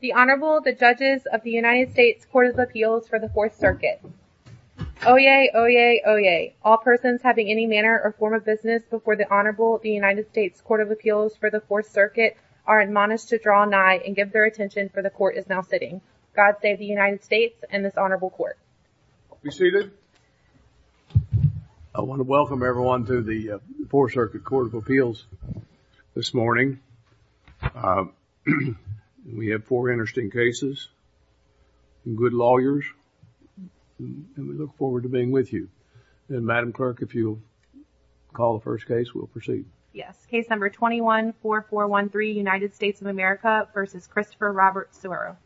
The Honorable the judges of the United States Court of Appeals for the Fourth Circuit. Oyez, oyez, oyez. All persons having any manner or form of business before the Honorable the United States Court of Appeals for the Fourth Circuit are admonished to draw nigh and give their attention for the court is now sitting. God save the United States and this Honorable Court. Be seated. I want to welcome everyone to the Fourth Circuit Court of Appeals this morning. We have four interesting cases, good lawyers, and we look forward to being with you. And Madam Clerk, if you'll call the first case, we'll proceed. Yes. Case number 21-4413, United States of America v. Christopher Robert Sueiro.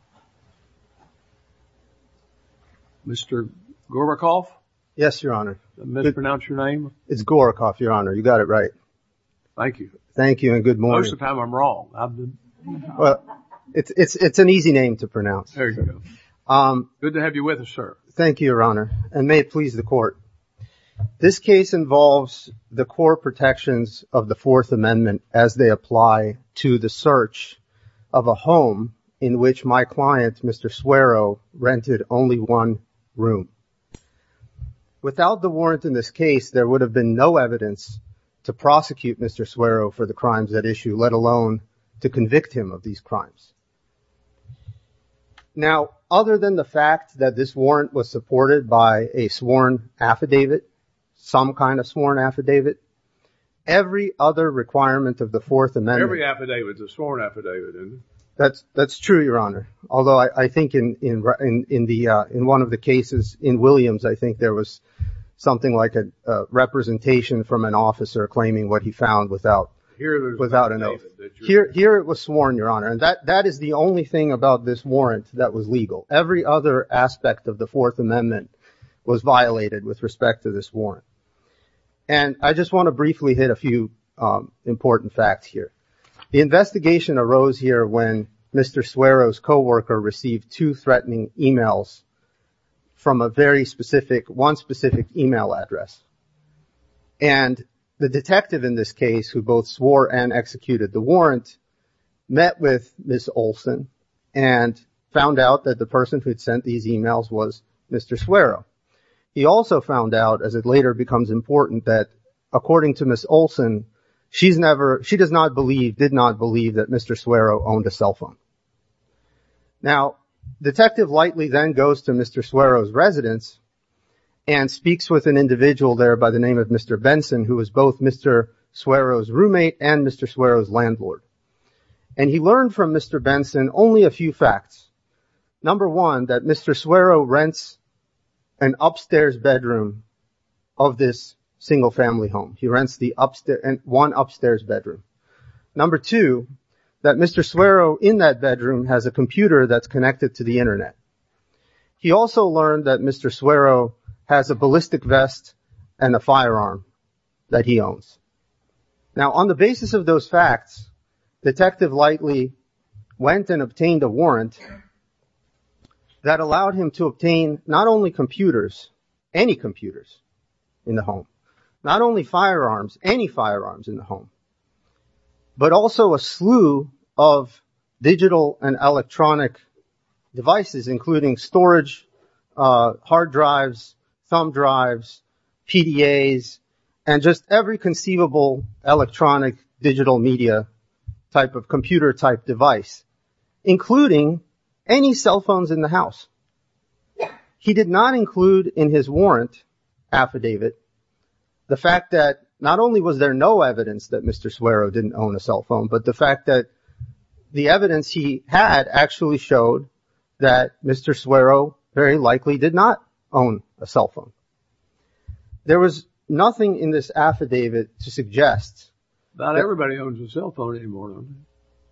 Mr. Gorbachev? Yes, Your Honor. May I pronounce your name? It's Gorbachev, Your Honor. You got it right. Thank you. Thank you and good morning. Most of the time I'm wrong. Well, it's an easy name to pronounce. There you go. Good to have you with us, sir. Thank you, Your Honor, and may it please the Court. This case involves the core protections of the Fourth Amendment as they apply to the search of a home in which my client, Mr. Sueiro, rented only one room. Without the warrant in this case, there would have been no evidence to prosecute Mr. Sueiro for the crimes at issue, let alone to convict him of these crimes. Now, other than the fact that this warrant was supported by a sworn affidavit, some kind of sworn affidavit, every other requirement of the Fourth Amendment... Every affidavit is a sworn affidavit, isn't it? That's true, Your Honor. In one of the cases in Williams, I think there was something like a representation from an officer claiming what he found without an oath. Here it was sworn, Your Honor, and that is the only thing about this warrant that was legal. Every other aspect of the Fourth Amendment was violated with respect to this warrant. And I just want to briefly hit a few important facts here. The investigation arose here when Mr. Sueiro's co-worker received two emails from a very specific... one specific email address. And the detective in this case, who both swore and executed the warrant, met with Ms. Olson and found out that the person who'd sent these emails was Mr. Sueiro. He also found out, as it later becomes important, that according to Ms. Olson, she's never... she does not believe... did not believe that Mr. Sueiro owned a cell phone. Now, detective lightly then goes to Mr. Sueiro's residence and speaks with an individual there by the name of Mr. Benson, who was both Mr. Sueiro's roommate and Mr. Sueiro's landlord. And he learned from Mr. Benson only a few facts. Number one, that Mr. Sueiro rents an upstairs bedroom of this single-family home. He rents the upstairs... one upstairs bedroom. Number two, that Mr. Sueiro in that bedroom has a He also learned that Mr. Sueiro has a ballistic vest and a firearm that he owns. Now, on the basis of those facts, detective lightly went and obtained a warrant that allowed him to obtain not only computers, any computers in the home, not only firearms, any firearms in the home, but also a slew of digital and storage hard drives, thumb drives, PDAs, and just every conceivable electronic digital media type of computer type device, including any cell phones in the house. He did not include in his warrant affidavit the fact that not only was there no evidence that Mr. Sueiro didn't own a cell phone, but the fact that the Mr. Sueiro very likely did not own a cell phone. There was nothing in this affidavit to suggest... Not everybody owns a cell phone anymore.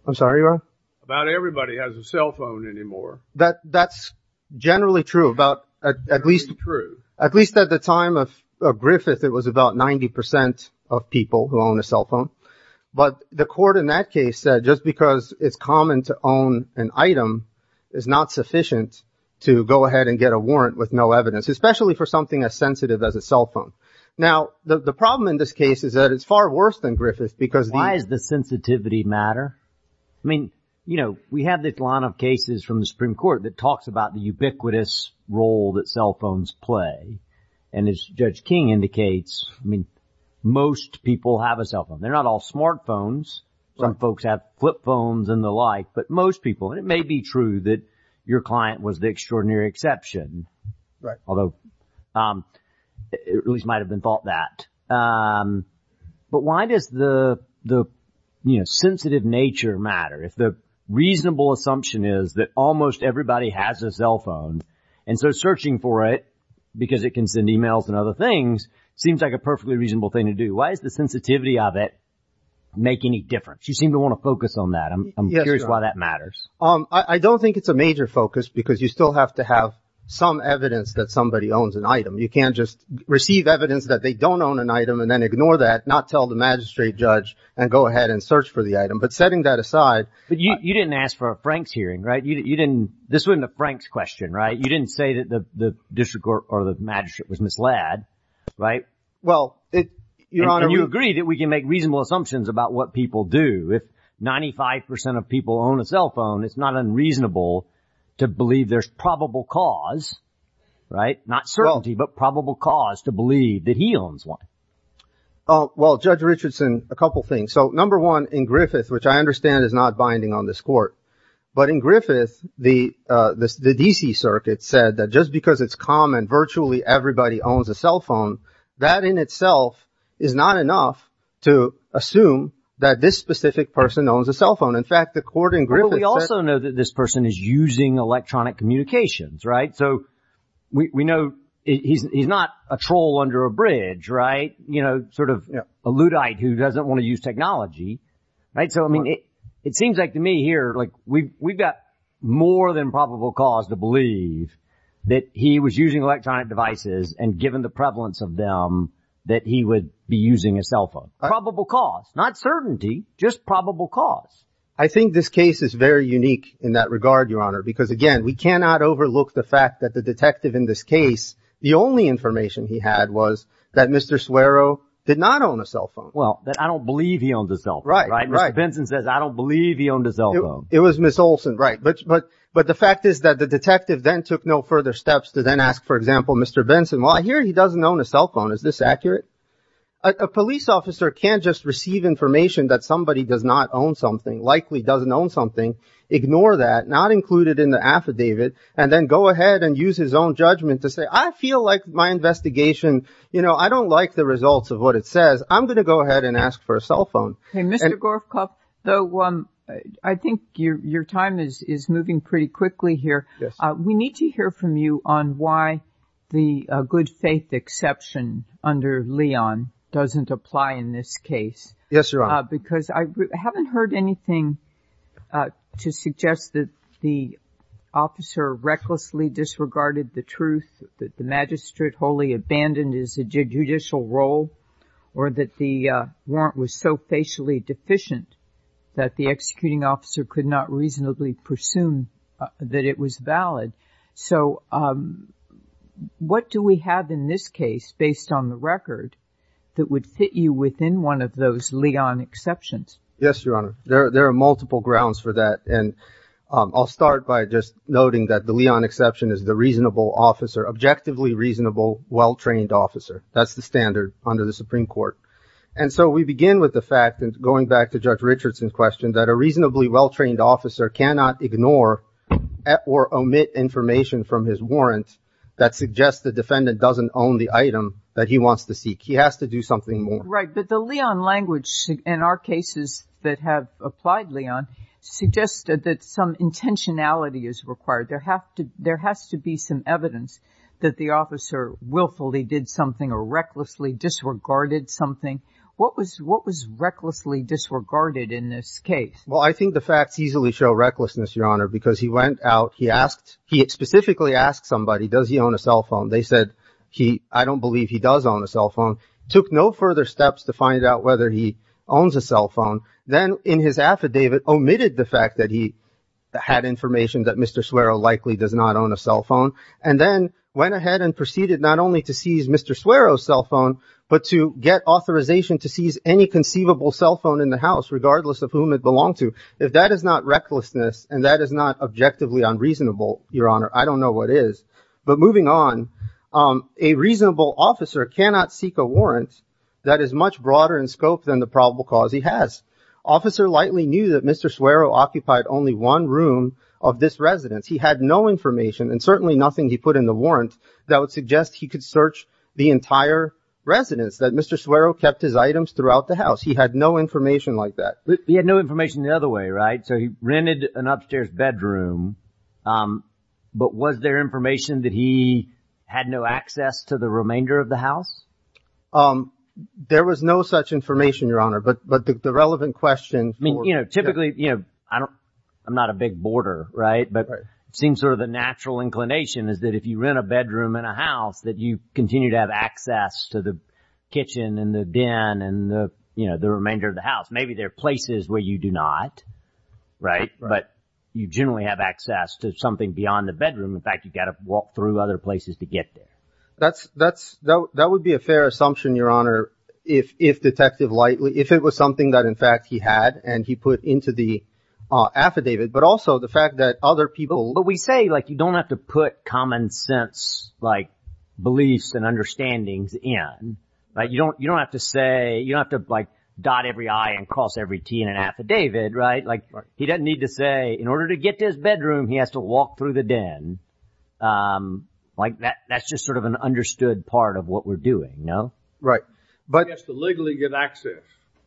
I'm sorry, Your Honor? Not everybody has a cell phone anymore. That's generally true about at least... Generally true. At least at the time of Griffith, it was about 90% of people who own a cell phone. But the court in that case said just because it's common to own an item is not sufficient to go ahead and get a warrant with no evidence, especially for something as sensitive as a cell phone. Now, the problem in this case is that it's far worse than Griffith because... Why does the sensitivity matter? I mean, you know, we have this line of cases from the Supreme Court that talks about the ubiquitous role that cell phones play. And as Judge King indicates, I mean, most people have a cell phone. They're not all smartphones. Some folks have flip phones and the like. But most people, and it may be true that your client was the extraordinary exception, although it at least might have been thought that. But why does the sensitive nature matter? If the reasonable assumption is that almost everybody has a cell phone, and so searching for it because it can send emails and other things seems like a perfectly reasonable thing to do. Why does the sensitivity of it make any difference? You seem to want to focus on that. I'm curious why that matters. I don't think it's a major focus because you still have to have some evidence that somebody owns an item. You can't just receive evidence that they don't own an item and then ignore that, not tell the magistrate judge and go ahead and search for the item. But setting that aside... But you didn't ask for a Franks hearing, right? You didn't... This wasn't a Franks question, right? You didn't say that the district or the magistrate was misled, right? Well, it... And you agree that we can make reasonable assumptions about what people do. If 95% of people own a cell phone, it's not unreasonable to believe there's probable cause, right? Not certainty, but probable cause to believe that he owns one. Oh, well, Judge Richardson, a couple things. So, number one, in Griffith, which I understand is not binding on this court, but in Griffith, the DC circuit said that just because it's common, virtually everybody owns a cell phone, that in itself is not enough to assume that this specific person owns a cell phone. In fact, the court in Griffith... But we also know that this person is using electronic communications, right? So, we know he's not a troll under a bridge, right? You know, sort of a luddite who doesn't want to use technology, right? So, I mean, it seems like to me here, like we've got more than probable cause to believe that he was using electronic devices and given the prevalence of them, that he would be using a cell phone. Probable cause, not certainty, just probable cause. I think this case is very unique in that regard, Your Honor, because again, we cannot overlook the fact that the detective in this case, the only information he had was that Mr. Suero did not own a cell phone. Well, that I don't believe he owned a cell phone, right? Mr. Benson says, I don't believe he owned a cell phone. It was Ms. Olson, right? But the fact is that the detective then took no further steps to then ask, for example, Mr. Benson, well, I hear he doesn't own a cell phone. Is this accurate? A police officer can't just receive information that somebody does not own something, likely doesn't own something, ignore that, not include it in the affidavit, and then go ahead and use his own judgment to say, I feel like my investigation, you know, I don't like the results of what it says. I'm going to go ahead and ask for a cell phone. Okay, Mr. Gorfkoff, though, I think your time is moving pretty quickly here. We need to hear from you on why the good faith exception under Leon doesn't apply in this case. Yes, Your Honor. Because I haven't heard anything to suggest that the officer recklessly disregarded the truth, that the magistrate wholly abandoned his judicial role, or that the warrant was so facially deficient that the executing officer could not reasonably presume that it was valid. So what do we have in this case, based on the record, that would fit you within one of those Leon exceptions? Yes, Your Honor. There are multiple grounds for that, and I'll start by just noting that the Leon exception is the reasonable officer, objectively reasonable, well-trained officer. That's the standard under the Supreme Court. And so we begin with the fact, and going back to Judge Richardson's question, that a reasonably well-trained officer cannot ignore or omit information from his warrant that suggests the defendant doesn't own the item that he wants to seek. He has to do something more. Right. But the Leon language in our cases that have applied Leon suggests that some intentionality is required. There has to be some evidence that the officer willfully did something or recklessly disregarded something. What was recklessly disregarded in this case? Well, I think the facts easily show recklessness, Your Honor, because he went out, he asked, he specifically asked somebody, does he own a cell phone? They said, I don't believe he does own a cell phone. Took no further steps to find out whether he owns a cell phone. Then, in his affidavit, omitted the fact that he had information that Mr. Swerow likely does not own a cell phone, and then went ahead and proceeded not only to seize Mr. Swerow's cell phone, but to get authorization to seize any conceivable cell phone in the house, regardless of whom it belonged to. If that is not recklessness and that is not objectively unreasonable, Your Honor, I don't know what is. But moving on, a reasonable officer cannot seek a warrant that is much broader in scope than the probable cause he has. Officer likely knew that Mr. Swerow occupied only one room of this residence. He had no information, and certainly nothing he put in the warrant, that would suggest he could search the entire residence, that Mr. Swerow kept his items throughout the house. He had no information like that. He had no information the other way, right? So he rented an upstairs bedroom, but was there information that he had no access to the remainder of the house? There was no such information, Your Honor, but the relevant question... I mean, you know, typically, you know, I'm not a big boarder, right? But it seems sort of the natural inclination is that if you rent a bedroom and a house, that you continue to have access to the kitchen and the remainder of the house. Maybe there are places where you do not, right? But you generally have access to something beyond the bedroom. In fact, you've got to walk through other places to get there. That would be a fair assumption, Your Honor, if Detective Lightly... if it was something that, in fact, he had and he put into the affidavit, but also the fact that other people... But we say, like, you don't have to put common sense, like, beliefs and understandings in, right? You don't have to say... you don't have to, like, dot every I and cross every T in an affidavit, right? Like, he doesn't need to say, in order to get to his bedroom, he has to walk through the den. Like, that's just sort of an understood part of what we're doing, no? Right. But... He has to legally get access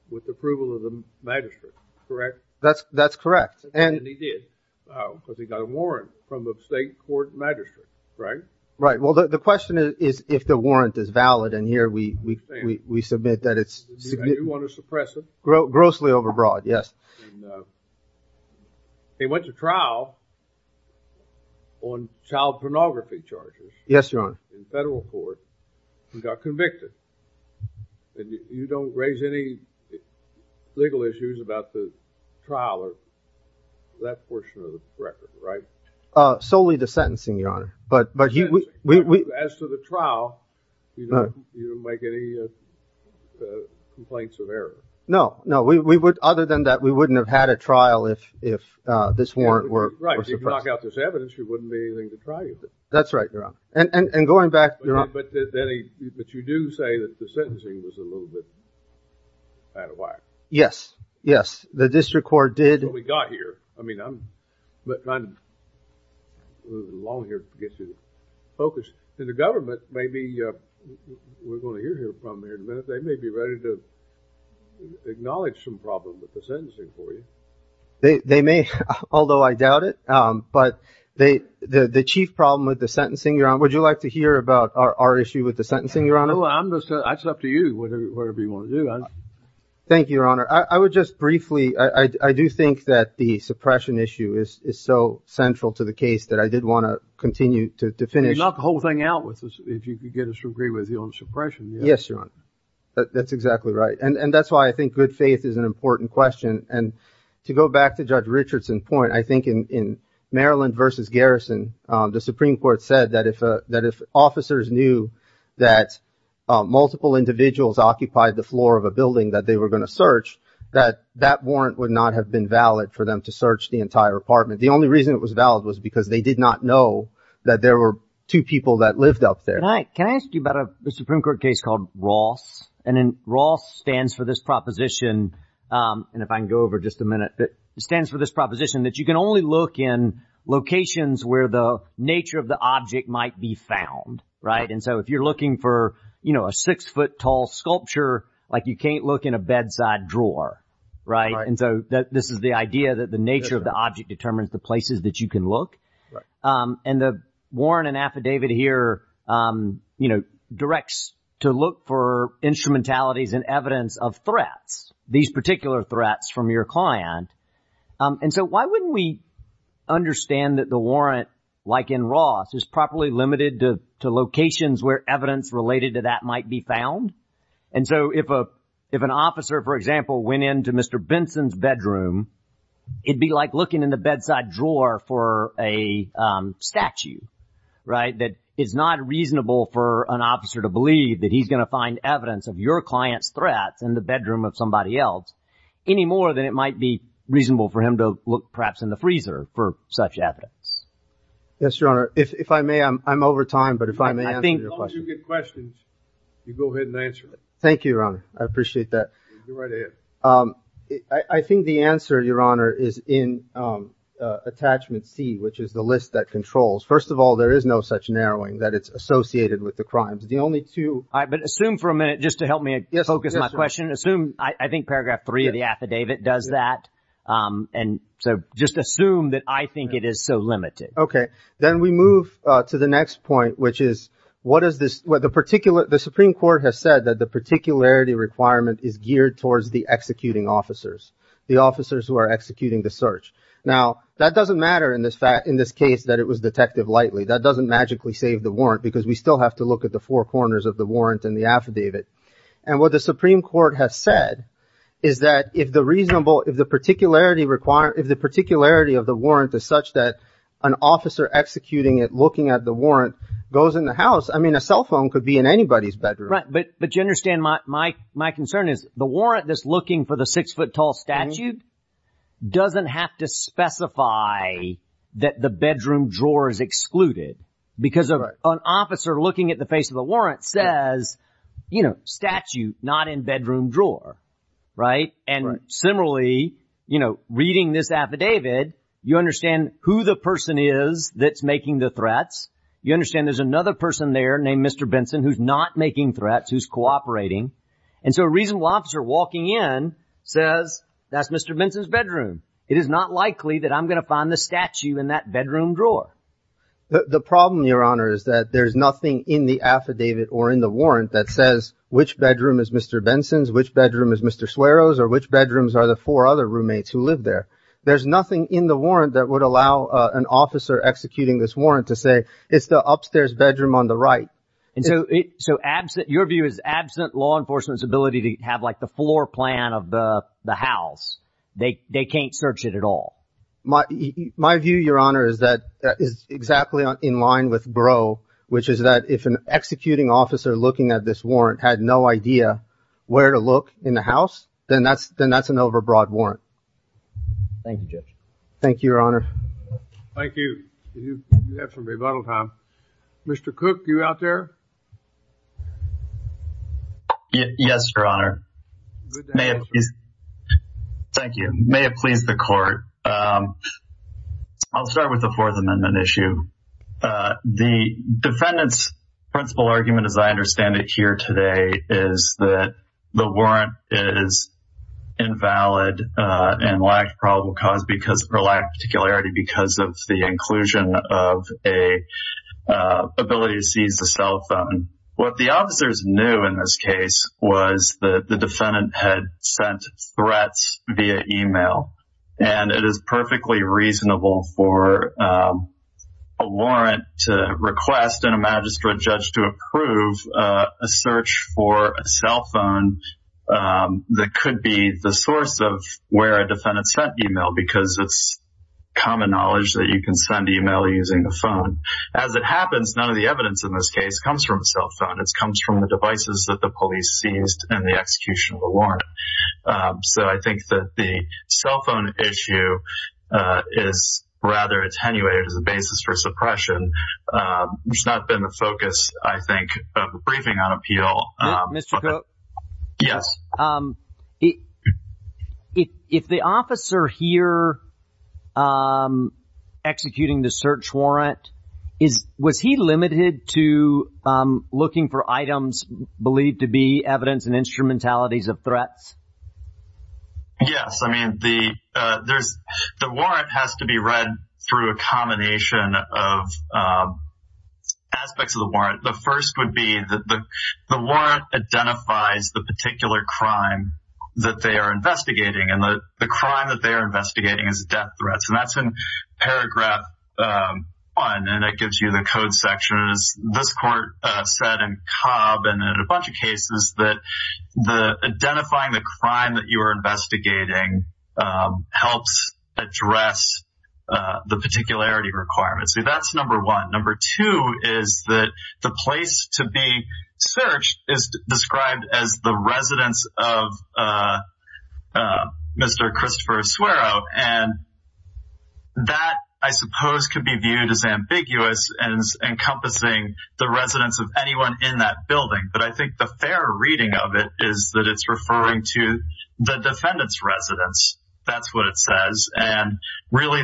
with the approval of the magistrate, correct? That's correct. And he did, because he got a warrant from a state court magistrate, right? Right. Well, the question is if the we submit that it's... You want to suppress it? Grossly overbroad, yes. He went to trial on child pornography charges. Yes, Your Honor. In federal court. He got convicted. And you don't raise any legal issues about the trial or that portion of the record, right? Solely the sentencing, Your Honor. But... As to the trial, you don't make any the complaints of error. No, no. We would, other than that, we wouldn't have had a trial if if this warrant were... Right. If you knock out this evidence, there wouldn't be anything to try. That's right, Your Honor. And going back, Your Honor... But you do say that the sentencing was a little bit out of whack. Yes, yes. The district court did... Well, we got here. I mean, I'm... Moving along here gets you focused. And the government may be... We're going to hear from here in a minute. They may be ready to acknowledge some problem with the sentencing for you. They may, although I doubt it. But they... The chief problem with the sentencing, Your Honor... Would you like to hear about our issue with the sentencing, Your Honor? Well, I'm just... That's up to you, whatever you want to do. Thank you, Your Honor. I would just briefly... I do think that the suppression issue is so central to the case that I did want to continue to finish... You knock the whole thing out if you get us to agree with you on suppression. Yes, Your Honor. That's exactly right. And that's why I think good faith is an important question. And to go back to Judge Richardson's point, I think in Maryland v. Garrison, the Supreme Court said that if officers knew that multiple individuals occupied the floor of a building that they were going to search, that that warrant would not have been valid for them to search the entire apartment. The only reason it was valid was because they did not know that there were two people that lived up there. Can I ask you about a Supreme Court case called Ross? And then Ross stands for this proposition. And if I can go over just a minute, it stands for this proposition that you can only look in locations where the nature of the object might be found. Right. And so if you're looking for, you know, a six foot tall sculpture, like you can't look in a bedside drawer. Right. And so this is the idea that the nature of the object determines the places that you can look. And the warrant and affidavit here, you know, directs to look for instrumentalities and evidence of threats, these particular threats from your client. And so why wouldn't we understand that the warrant like in Ross is properly limited to locations where evidence related to that might be found? And so if a if an officer, for example, went into Mr. Benson's bedroom, it'd be like looking in the bedside drawer for a statue. Right. That is not reasonable for an officer to believe that he's going to find evidence of your client's threats in the bedroom of somebody else any more than it might be reasonable for him to look perhaps in the freezer for such evidence. Yes, your honor. If I may, I'm over time. But if I may, I think you get questions. You go ahead and answer. Thank you. I appreciate that. I think the answer, your honor, is in attachment C, which is the list that controls. First of all, there is no such narrowing that it's associated with the crimes. The only two I assume for a focus on my question, assume I think paragraph three of the affidavit does that. And so just assume that I think it is so limited. OK, then we move to the next point, which is what is this? What the particular the Supreme Court has said that the particularity requirement is geared towards the executing officers, the officers who are executing the search. Now, that doesn't matter in this fact, in this case, that it was detective lightly. That doesn't magically save the warrant because we still have to look at the four corners of the warrant and the affidavit. And what the Supreme Court has said is that if the reasonable if the particularity required, if the particularity of the warrant is such that an officer executing it, looking at the warrant goes in the house, I mean, a cell phone could be in anybody's bedroom. But but you understand my my my concern is the warrant that's looking for the six foot tall statute doesn't have to specify that the bedroom drawer is excluded because of an officer looking at the face of the warrant says, you know, statute not in bedroom drawer. Right. And similarly, you know, reading this affidavit, you understand who the person is that's making the threats. You understand there's another person there named Mr. Benson who's not making threats, who's cooperating. And so a reasonable officer walking in says, that's Mr. Benson's bedroom. It is not likely that I'm going to find the statue in that bedroom drawer. The problem, Your Honor, is that there's nothing in the affidavit or in the warrant that says which bedroom is Mr. Benson's, which bedroom is Mr. Swearer's or which bedrooms are the four other roommates who live there. There's nothing in the warrant that would allow an officer executing this warrant to say it's the upstairs bedroom on the right. And so so absent your view is absent law enforcement's ability to have like the floor plan of the house. They they can't search it at all. My my view, Your Honor, is that is exactly in line with Brough, which is that if an executing officer looking at this warrant had no idea where to look in the house, then that's then that's an overbroad warrant. Thank you, Judge. Thank you, Your Honor. Thank you. You have some rebuttal time. Mr. Cook, you out there? Yes, Your Honor. Thank you. May it please the court. I'll start with the Fourth Amendment issue. The defendant's principal argument, as I understand it here today, is that the warrant is invalid and lacked probable cause because or lack of particularity because of the inclusion of a ability to seize the cell phone. What the officers knew in this case was that the defendant had sent threats via email and it is perfectly reasonable for a warrant to request and a magistrate judge to approve a search for a cell phone that could be the source of where a defendant sent email because it's common knowledge that you can send email using the phone. As it happens, none of the evidence in this case comes from a cell phone. It comes from the devices that the police seized and the execution of the warrant. So I think that the cell phone issue is rather attenuated as a basis for suppression, which has not been the focus, I think, of the briefing on appeal. Mr. Cook? Yes. If the officer here executing the search warrant, was he limited to looking for items believed to be evidence and instrumentalities of threats? Yes. I mean, the warrant has to be read through a combination of aspects of the warrant. The first would be that the warrant identifies the particular crime that they are investigating and the crime that they are investigating is death threats and that's in paragraph 1 and it gives you the code sections. This court said in Cobb and in a bunch of cases that identifying the crime that you are investigating helps address the particularity requirements. So that's number one. Number two is that the place to be searched is described as the residence of Mr. Christopher Asuero and that, I suppose, could be viewed as ambiguous and encompassing the residence of anyone in that building. But I think the fair reading of it is that it's referring to the defendant's residence. That's what it says. And really,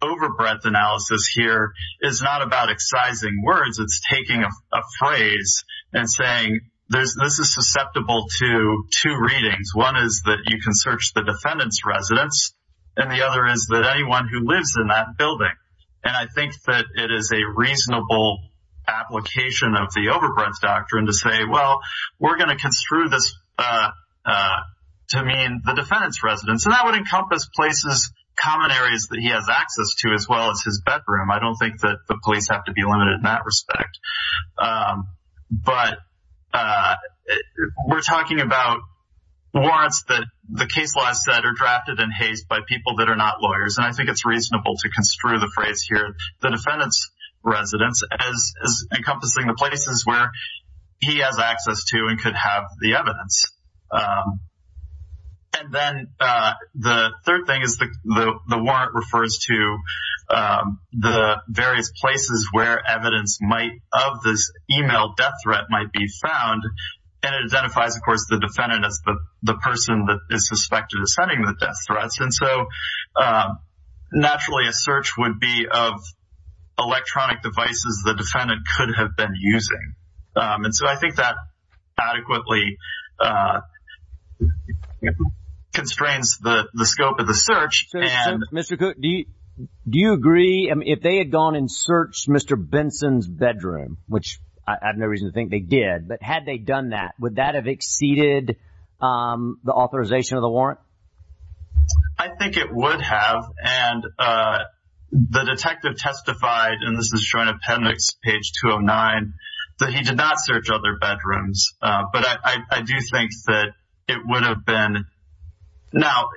overbreadth analysis here is not about excising words. It's taking a phrase and saying this is susceptible to two readings. One is that you can search the defendant's residence and the other is that anyone who lives in that building. And I think that it is a reasonable application of the overbreadth doctrine to say, well, we're going to construe this to mean the defendant's residence. That would encompass places, common areas that he has access to as well as his bedroom. I don't think that the police have to be limited in that respect. But we're talking about warrants that the case law said are drafted in haste by people that are not lawyers. And I think it's reasonable to construe the phrase here, the defendant's residence, as encompassing the places where he has access to and could have the evidence. And then the third thing is the warrant refers to the various places where evidence of this email death threat might be found. And it identifies, of course, the defendant as the person that is suspected of sending the death threats. And so, naturally, a search would be of electronic devices the defendant could have been using. And so, I think that adequately constrains the scope of the search. So, Mr. Cook, do you agree? I mean, if they had gone and searched Mr. Benson's bedroom, which I have no reason to think they did, but had they done that, would that have exceeded the authorization of the warrant? I think it would have. And the detective testified, and this is Joint Appendix, page 209, that he did not search other bedrooms. But I do think that it would have been... Now,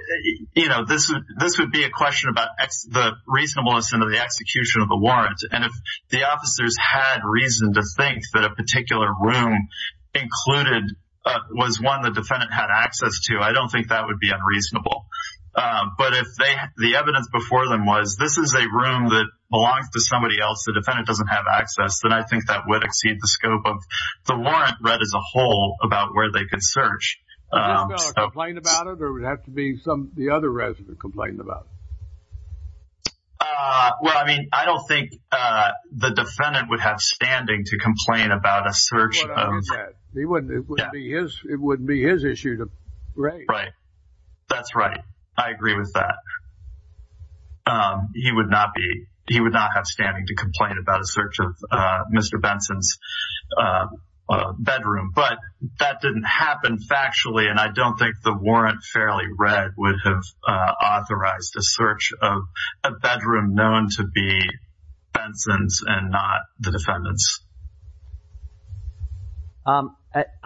this would be a question about the reasonableness of the execution of the warrant. And if the officers had reason to think that a particular room included was one the defendant had access to, I don't think that would be unreasonable. But if the evidence before them was, this is a room that belongs to somebody else, the defendant doesn't have access, then I think that would exceed the scope of the warrant read as a whole about where they could search. Would this fellow complain about it, or would it have to be the other resident complaining about it? Well, I mean, I don't think the defendant would have standing to complain about a search of... It wouldn't be his issue to raise. Right. That's right. I agree with that. He would not have standing to complain about search of Mr. Benson's bedroom. But that didn't happen factually, and I don't think the warrant fairly read would have authorized the search of a bedroom known to be Benson's and not the defendant's. I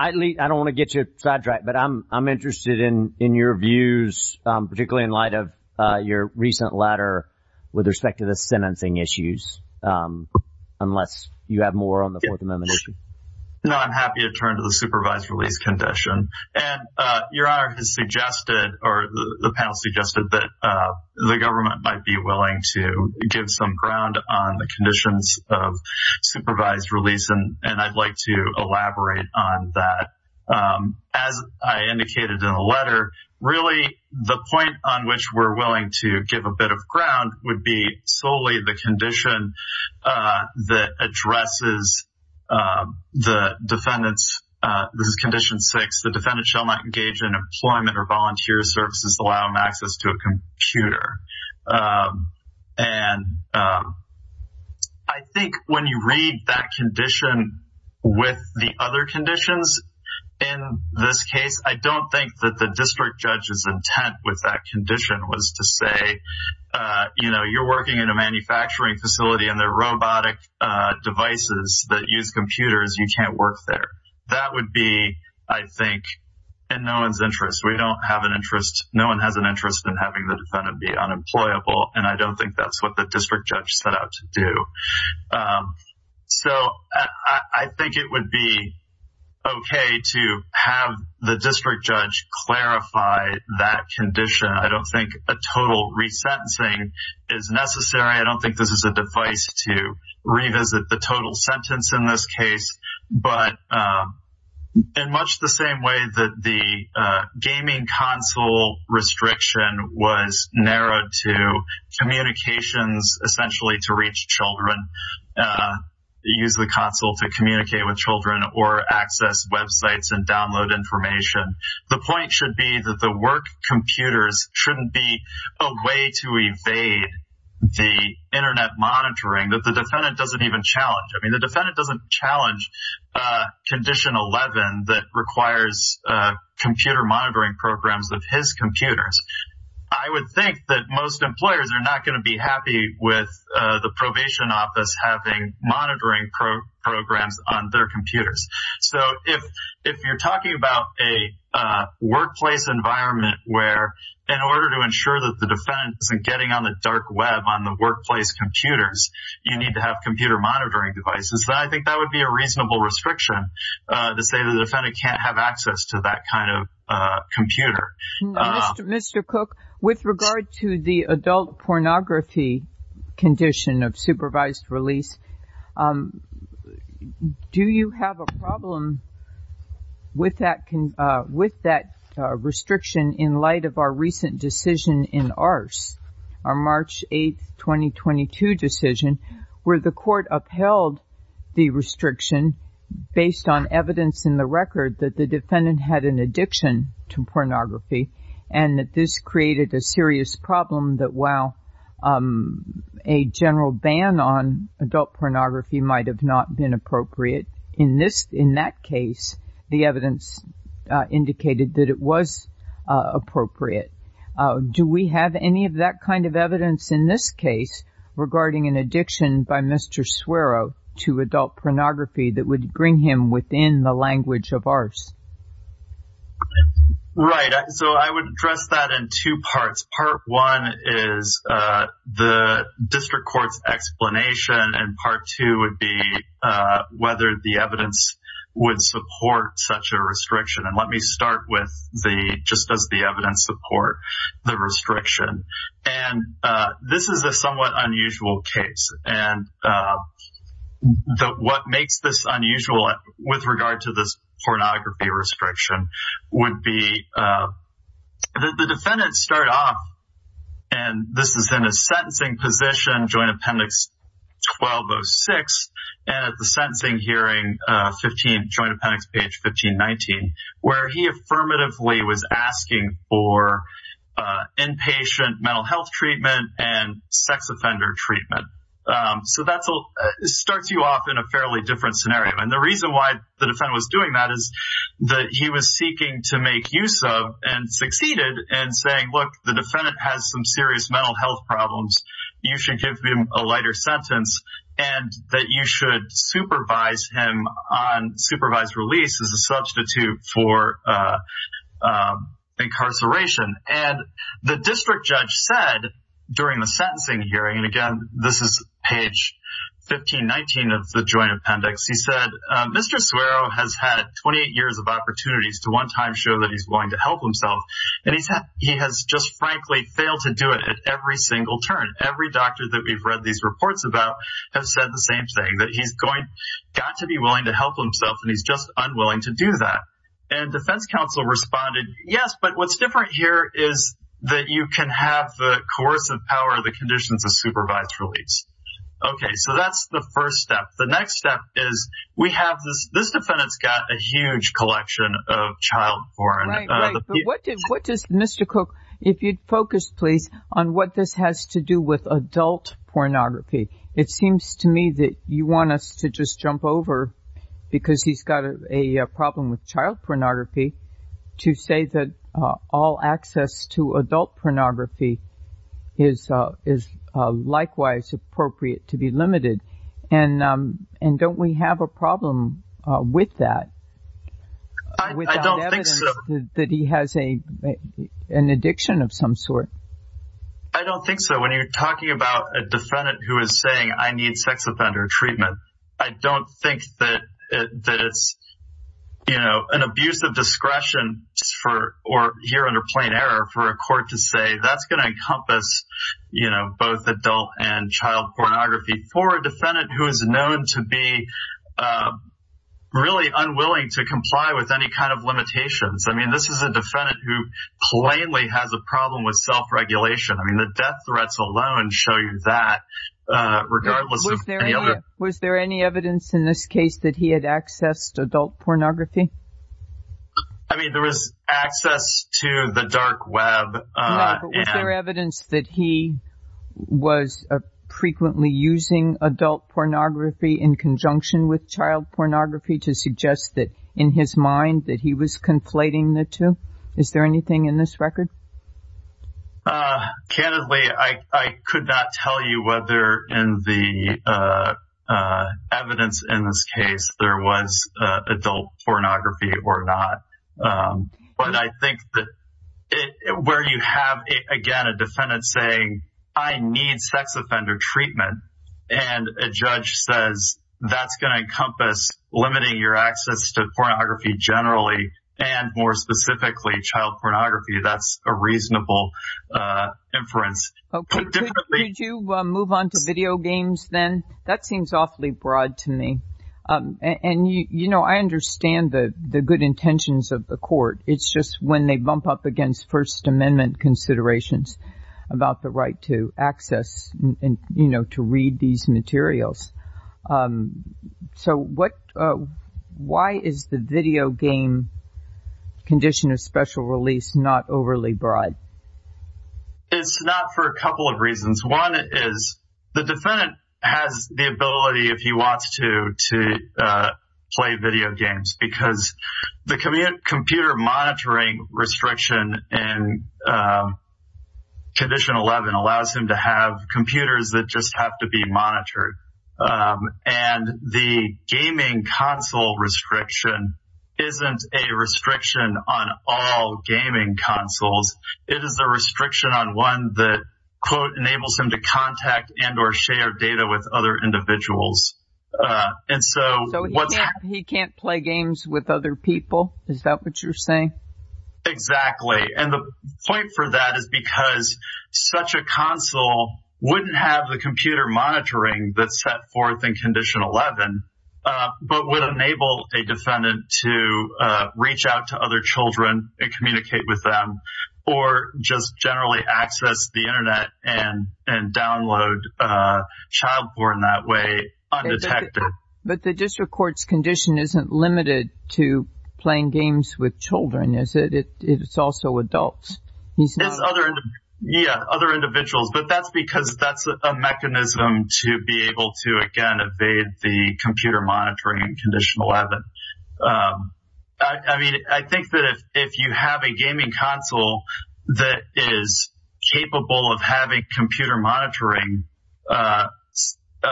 don't want to get you sidetracked, but I'm interested in your views, particularly in light of your recent letter with respect to the sentencing issues, unless you have more on the Fourth Amendment issue. No, I'm happy to turn to the supervised release condition. And Your Honor has suggested, or the panel suggested that the government might be willing to give some ground on the conditions of supervised release, and I'd like to elaborate on that. As I indicated in the letter, really the point on which we're willing to give a bit of ground would be solely the condition that addresses the defendant's... This is Condition 6. The defendant shall not engage in employment or volunteer services allowing access to a computer. And I think when you read that condition with the other conditions in this case, I don't think that the district judge's intent with that condition was to say, you know, you're working in a manufacturing facility and there are robotic devices that use computers. You can't work there. That would be, I think, in no one's interest. We don't have an interest. No one has an interest in having the defendant be unemployable, and I don't think that's what the district judge set out to do. So I think it would be okay to have the district judge clarify that condition. I don't think a total resentencing is necessary. I don't think this is a device to revisit the total was narrowed to communications essentially to reach children, use the console to communicate with children, or access websites and download information. The point should be that the work computers shouldn't be a way to evade the internet monitoring that the defendant doesn't even challenge. I mean, the defendant doesn't challenge condition 11 that requires computer monitoring programs of his computers. I would think that most employers are not going to be happy with the probation office having monitoring programs on their computers. So if you're talking about a workplace environment where in order to ensure that the defendant isn't getting on the dark web on the workplace computers, you need to have computer monitoring devices. I think that would be a reasonable restriction to say the defendant can't have access to that kind of computer. Mr. Cook, with regard to the adult pornography condition of supervised release, do you have a problem with that restriction in light of our recent decision in ARCE, our March 8, 2022 decision, where the court upheld the restriction based on evidence in the record that the defendant had an addiction to pornography and that this created a serious problem that while a general ban on adult pornography might have not been appropriate, in that case, the evidence indicated that it was appropriate. Do we have any of that kind of evidence in this case regarding an addiction by Mr. Swerow to adult pornography that would bring him within the language of ARCE? Right. So I would address that in two parts. Part one is the district court's explanation, and part two would be whether the evidence would support such a restriction. And let me start with just does the evidence support the restriction. And this is a somewhat unusual case. And what makes this unusual with regard to this and this is in a sentencing position, Joint Appendix 1206, and at the sentencing hearing 15, Joint Appendix page 1519, where he affirmatively was asking for inpatient mental health treatment and sex offender treatment. So that starts you off in a fairly different scenario. And the reason why the defendant was doing that is that he was seeking to make use of and succeeded in saying, the defendant has some serious mental health problems. You should give him a lighter sentence and that you should supervise him on supervised release as a substitute for incarceration. And the district judge said during the sentencing hearing, and again, this is page 1519 of the Joint Appendix, he said, Mr. Swerow has had 28 years of opportunities to show that he's willing to help himself. And he has just frankly failed to do it at every single turn. Every doctor that we've read these reports about have said the same thing, that he's got to be willing to help himself and he's just unwilling to do that. And defense counsel responded, yes, but what's different here is that you can have the coercive power of the conditions of supervised release. Okay, so that's the first step. The next step is we have this defendant's got a huge collection of child porn. What does Mr. Cook, if you'd focus, please, on what this has to do with adult pornography. It seems to me that you want us to just jump over because he's got a problem with child pornography to say that all access to adult pornography is likewise appropriate to be without evidence that he has an addiction of some sort. I don't think so. When you're talking about a defendant who is saying I need sex offender treatment, I don't think that it's, you know, an abuse of discretion for or here under plain error for a court to say that's going to encompass, you know, both adult and child with any kind of limitations. I mean, this is a defendant who plainly has a problem with self-regulation. I mean, the death threats alone show you that regardless. Was there any evidence in this case that he had access to adult pornography? I mean, there was access to the dark web. Was there evidence that he was frequently using adult pornography in conjunction with child that he was conflating the two? Is there anything in this record? Candidly, I could not tell you whether in the evidence in this case there was adult pornography or not. But I think that where you have, again, a defendant saying I need sex offender treatment and a judge says that's going to encompass limiting your access to pornography generally and more specifically child pornography, that's a reasonable inference. Okay. Could you move on to video games then? That seems awfully broad to me. And, you know, I understand the good intentions of the court. It's just when they bump up against First Amendment considerations about the right to access and, you know, to read these materials. So why is the video game condition of special release not overly broad? It's not for a couple of reasons. One is the defendant has the ability, if he wants to, to play video games because the computer monitoring restriction in Condition 11 allows him to have computers that just have to be monitored. And the gaming console restriction isn't a restriction on all gaming consoles. It is a restriction on one that, quote, enables him to contact and or share data with other individuals. And so he can't play games with other people? Is that what you're saying? Exactly. And the point for that is because such a console wouldn't have the computer monitoring that's set forth in Condition 11, but would enable a defendant to reach out to other children and communicate with them, or just generally access the Internet and download child porn that way undetected. But the district court's condition isn't limited to playing games with children, is it? It's also adults. Yeah, other individuals. But that's because that's a mechanism to be able to, again, evade the computer monitoring in Condition 11. I mean, I think that if you have a gaming console that is capable of having computer monitoring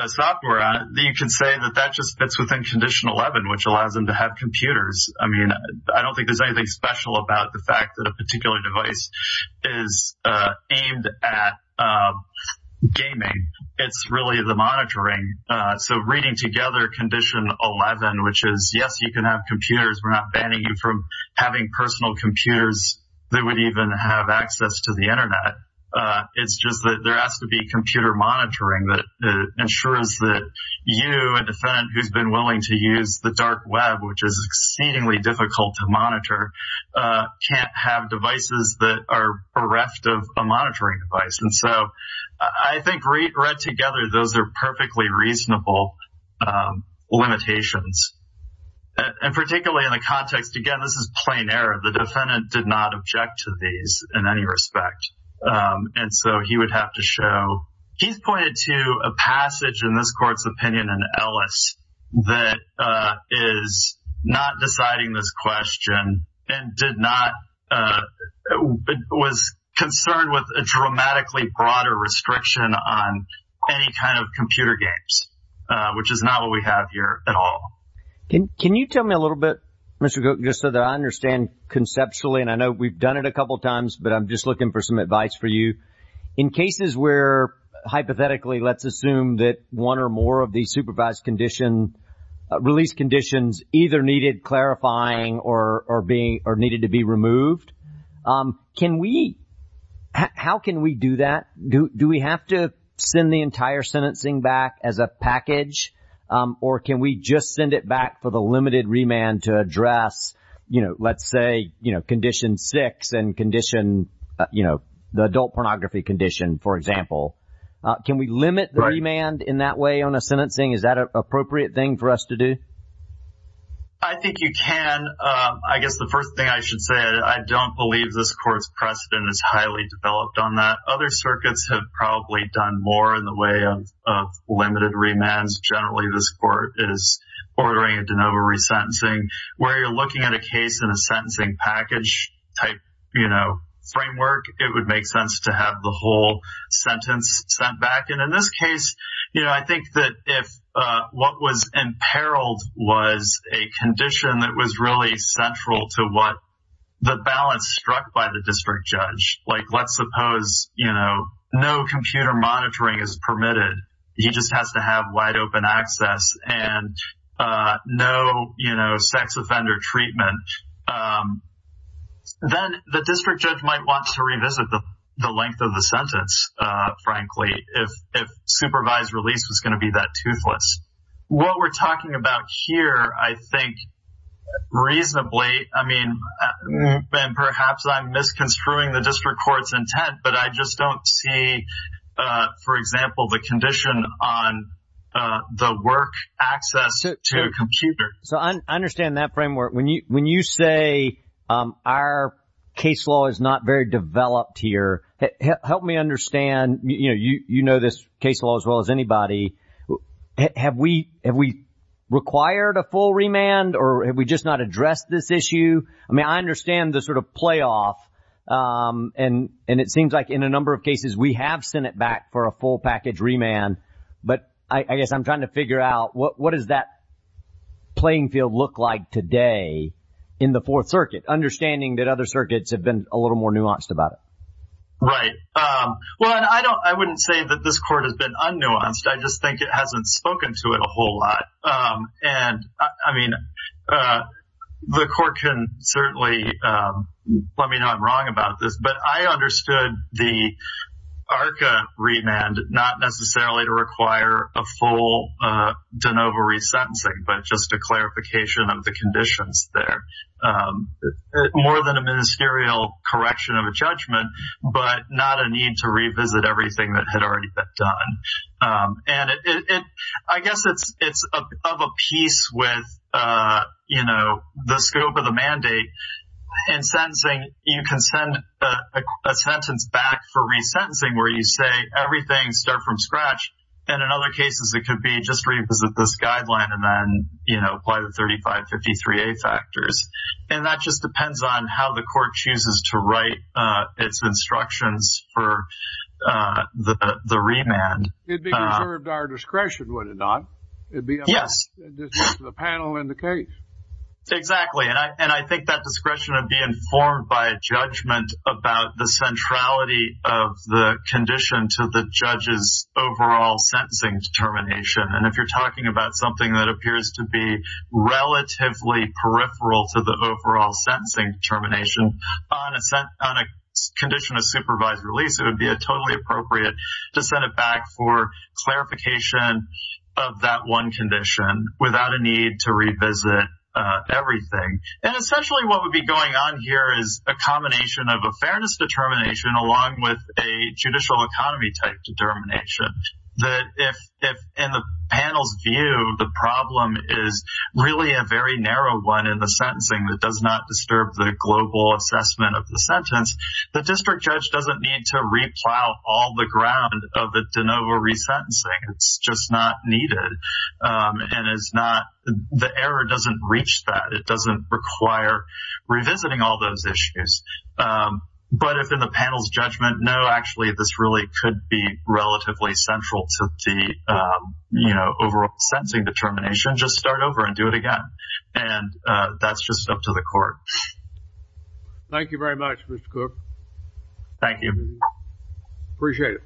software on it, you can say that that just fits within Condition 11, which allows them to have computers. I mean, I don't think there's anything special about the fact that a particular device is aimed at gaming. It's really the monitoring. So reading together Condition 11, which is, yes, you can have computers. We're not banning you from having personal computers that would even have access to the Internet. It's just that there has to be computer monitoring that ensures that you, a defendant who's been willing to use the dark web, which is exceedingly difficult to monitor, can't have devices that are bereft of a monitoring device. And so I think read together, those are perfectly reasonable limitations. And particularly in the context, again, this is plain error. The defendant did not object to these in any respect. And so he would have to show. Keith pointed to a passage in this court's opinion in Ellis that is not deciding this question and did not was concerned with a dramatically broader restriction on any kind of computer games, which is not what we have here at all. Can you tell me a little bit, Mr. Cook, just so that I understand conceptually? And I know we've done it a couple of times, but I'm just looking for some advice for you in cases where hypothetically, let's assume that one or more of the supervised condition release conditions either needed clarifying or being or needed to be removed. Can we how can we do that? Do we have to send the entire sentencing back as a package or can we just send it back for the limited remand to address, you know, let's say, you know, condition six and condition, you know, the adult pornography condition, for example. Can we limit remand in that way on a sentencing? Is that an appropriate thing for us to do? I think you can. I guess the first thing I should say, I don't believe this court's precedent is highly developed on that. Other circuits have probably done more in the way of limited remands. Generally, this court is ordering a de novo resentencing where you're looking at a case in a sentencing package type, you know, framework. It would make sense to have the whole sentence sent back. And in this case, you know, I think that if what was imperiled was a condition that was really central to what the balance struck by the district judge, like, let's suppose, you know, no computer monitoring is permitted. He just has to have wide open access and no, you know, sex offender treatment. Then the district judge might want to revisit the length of the sentence, frankly, if supervised release was going to be that toothless. What we're talking about here, I think, reasonably, I mean, perhaps I'm misconstruing the district court's intent, but I just don't see, for example, the condition on the work access to a computer. So I understand that framework. When you say our case law is not very developed here, help me understand, you know, you know this case law as well as anybody. Have we required a full remand or have we just not addressed this issue? I mean, I understand the sort of playoff. And it seems like in a number of cases, we have sent it back for a figure out what does that playing field look like today in the Fourth Circuit, understanding that other circuits have been a little more nuanced about it. Right. Well, I don't I wouldn't say that this court has been unnuanced. I just think it hasn't spoken to it a whole lot. And I mean, the court can certainly let me know I'm wrong about this. But I understood the ARCA remand not necessarily to require a full de novo resentencing, but just a clarification of the conditions there. More than a ministerial correction of a judgment, but not a need to revisit everything that had already been done. And I guess it's of a piece with, you know, the scope of the mandate and sentencing. You can send a sentence back for resentencing where you say everything start from scratch. And in other cases, it could be just revisit this guideline and then, you know, apply the 3553A factors. And that just depends on how the court chooses to write its instructions for the remand. It'd be reserved our discretion, would it not? It'd be. Yes. The panel in the case. Exactly. And I think that discretion would be informed by a judgment about the centrality of the condition to the judge's overall sentencing determination. And if you're talking about something that appears to be relatively peripheral to the overall sentencing termination on a condition of supervised release, it would be a totally appropriate to send it back for clarification of that one condition without a need to revisit everything. And essentially, what would be going on here is a combination of a fairness determination along with a judicial economy type determination that if in the panel's view, the problem is really a very narrow one in the sentencing that does not plow all the ground of the de novo resentencing. It's just not needed. And it's not the error doesn't reach that. It doesn't require revisiting all those issues. But if in the panel's judgment, no, actually, this really could be relatively central to the, you know, overall sentencing determination, just start over and do it again. And that's just up to the court. Thank you very much, Mr. Cook. Thank you. Appreciate it.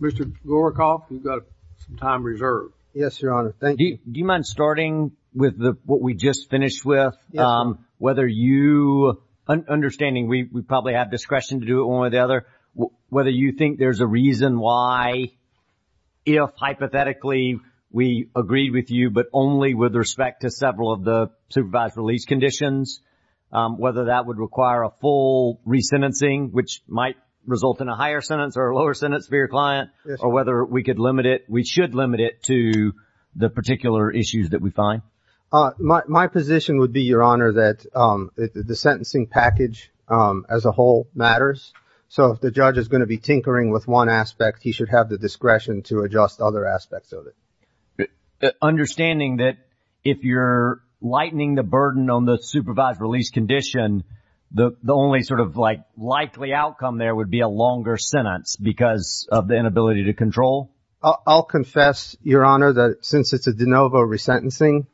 Mr. Gorakoff, we've got some time reserved. Yes, Your Honor. Thank you. Do you mind starting with the what we just finished with? Whether you, understanding we probably have discretion to do it one way or the other, whether you think there's a reason why, if hypothetically, we agreed with you, but only with respect to several of the supervised release conditions, whether that would require a full resentencing, which might result in a higher sentence or a lower sentence for your client, or whether we could limit it, we should limit it to the particular issues that we find? My position would be, Your Honor, that the sentencing package as a whole matters. So if the judge is going to be tinkering with one aspect, he should have the discretion to adjust other aspects of it. Understanding that if you're lightening the burden on the supervised release condition, the only sort of like likely outcome there would be a longer sentence because of the inability to control? I'll confess, Your Honor, that since it's a de novo resentencing,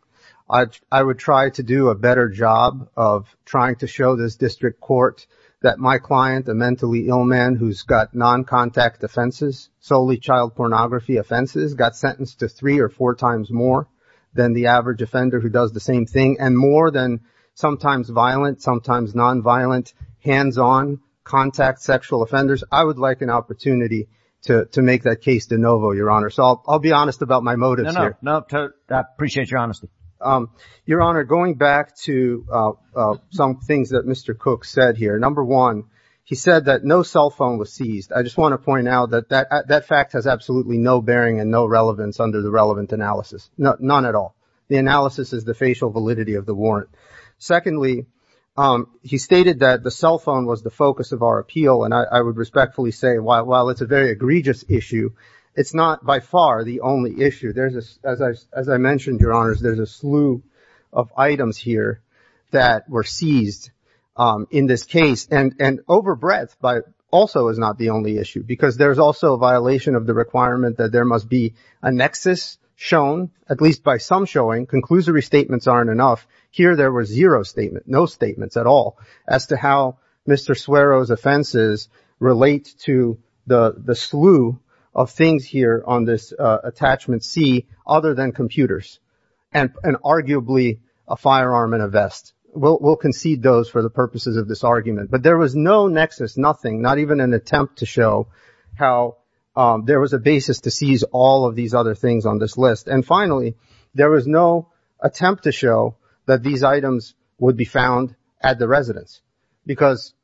I would try to do a better job of trying to show this district court that my client, a mentally ill man who's got non-contact offenses, solely child pornography offenses, got sentenced to three or four times more than the average offender who does the same thing, and more than sometimes violent, sometimes non-violent, hands-on, contact sexual offenders. I would like an opportunity to make that case de novo, Your Honor. So I'll be honest about my motives here. No, no, I appreciate your honesty. Your Honor, going back to some things that Mr. He said that no cell phone was seized. I just want to point out that that fact has absolutely no bearing and no relevance under the relevant analysis. None at all. The analysis is the facial validity of the warrant. Secondly, he stated that the cell phone was the focus of our appeal, and I would respectfully say while it's a very egregious issue, it's not by far the only issue. As I mentioned, Your Honors, there's a slew of items here that were seized in this case, and overbreadth also is not the only issue, because there's also a violation of the requirement that there must be a nexus shown, at least by some showing. Conclusory statements aren't enough. Here there were zero statements, no statements at all, as to how Mr. Suero's offenses relate to the slew of things here on this attachment C, other than computers, and arguably a firearm and a vest. We'll concede those for the purposes of this argument. But there was no nexus, nothing, not even an attempt to show how there was a basis to seize all of these other things on this list. And finally, there was no attempt to show that these items would be found at the residence, because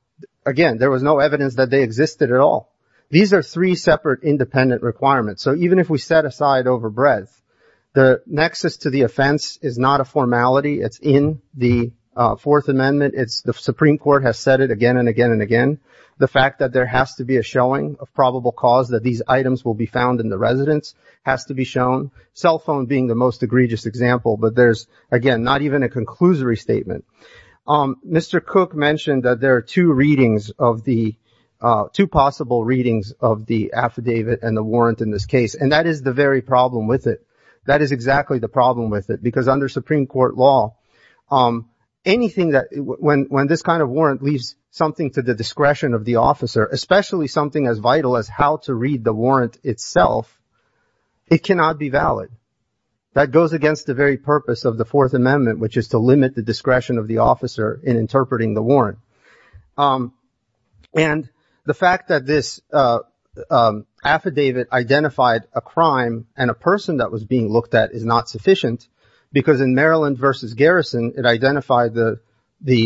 again, there was no evidence that they existed at all. These are three separate independent requirements. So even if we set aside overbreadth, the nexus to the offense is not a formality. It's in the Fourth Amendment. The Supreme Court has said it again and again and again. The fact that there has to be a showing of probable cause that these items will be found in the residence has to be shown, cell phone being the most egregious example. But there's, again, not even a conclusory statement. Mr. Cook mentioned that there are two readings of the, two possible readings of the affidavit and the warrant in this case, and that is the very problem with it. That is exactly the problem with it, because under Supreme Court law, anything that, when this kind of warrant leaves something to the discretion of the officer, especially something as vital as how to read the warrant itself, it cannot be valid. That goes against the very purpose of the Fourth Amendment, which is to limit the discretion of the officer in is not sufficient, because in Maryland v. Garrison, it identified the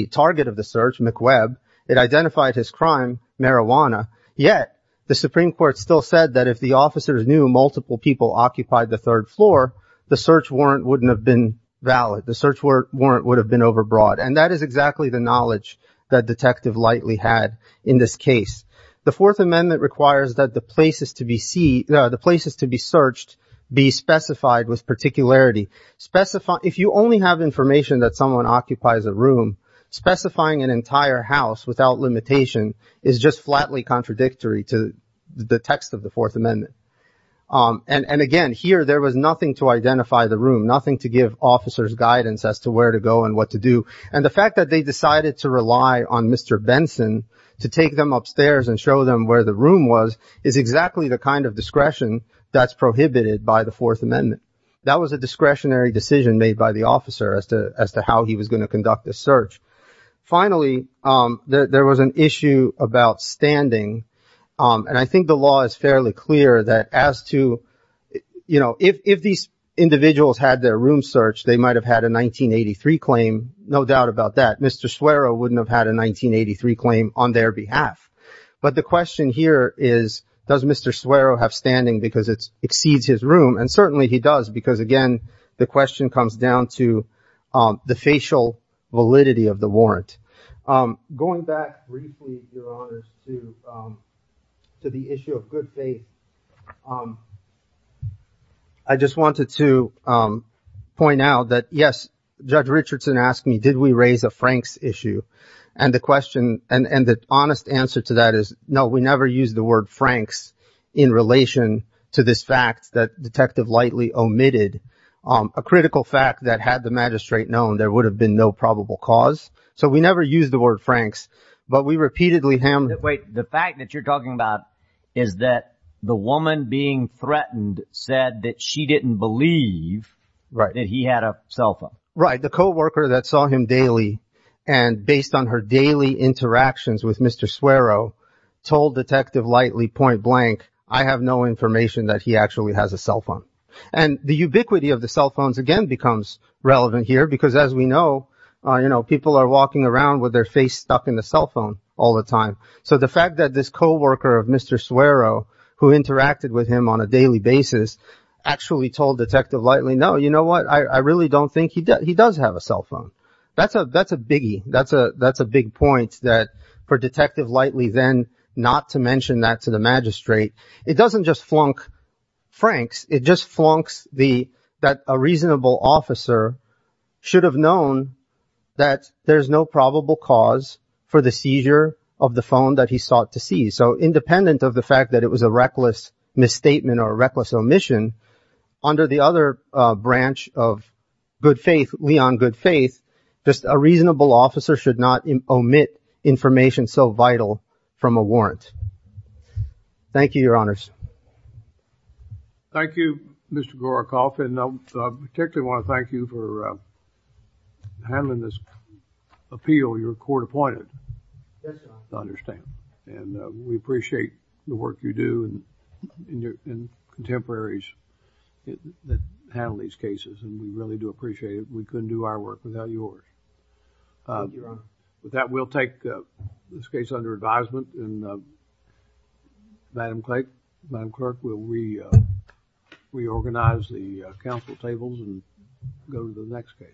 target of the search, McWeb, it identified his crime, marijuana, yet the Supreme Court still said that if the officers knew multiple people occupied the third floor, the search warrant wouldn't have been valid. The search warrant would have been overbroad. And that is exactly the knowledge that Detective Lightly had in this case. The Fourth Amendment requires that the places to be searched be specified with particularity. If you only have information that someone occupies a room, specifying an entire house without limitation is just flatly contradictory to the text of the Fourth Amendment. And again, here there was nothing to identify the room, nothing to give officers guidance as to where to go and what to do. And the fact that they decided to rely on Mr. Benson to take them upstairs and show them where the room was is exactly the kind of discretion that's prohibited by the Fourth Amendment. That was a discretionary decision made by the officer as to how he was going to conduct the search. Finally, there was an issue about standing. And I think the law is fairly clear that as to, you know, if these individuals had their room searched, they might have had a 1983 claim, no doubt about that. Mr. Suero wouldn't have had a because it exceeds his room. And certainly he does, because again, the question comes down to the facial validity of the warrant. Going back briefly, Your Honor, to the issue of good faith. I just wanted to point out that, yes, Judge Richardson asked me, did we raise a Franks issue? And the question and the honest answer to that is, no, we never used the word Franks in relation to this fact that Detective Lightley omitted, a critical fact that had the magistrate known, there would have been no probable cause. So we never used the word Franks, but we repeatedly handled it. The fact that you're talking about is that the woman being threatened said that she didn't believe that he had a cell phone. Right. The co-worker that saw him daily and based on her that he actually has a cell phone. And the ubiquity of the cell phones again becomes relevant here, because as we know, you know, people are walking around with their face stuck in the cell phone all the time. So the fact that this co-worker of Mr. Suero, who interacted with him on a daily basis, actually told Detective Lightley, no, you know what? I really don't think he does have a cell phone. That's a that's a biggie. That's a that's a big point that for to the magistrate. It doesn't just flunk Franks. It just flunks the that a reasonable officer should have known that there's no probable cause for the seizure of the phone that he sought to see. So independent of the fact that it was a reckless misstatement or reckless omission under the other branch of good faith, Leon, good faith, just a reasonable officer should not Thank you, Your Honors. Thank you, Mr. Gorachoff. And I particularly want to thank you for handling this appeal. You're court appointed. Yes, I understand. And we appreciate the work you do and your contemporaries that handle these cases. And we really do appreciate it. We couldn't do our work without yours. That will take this case under advisement and Madam Clerk, Madam Clerk, will reorganize the council tables and go to the next case.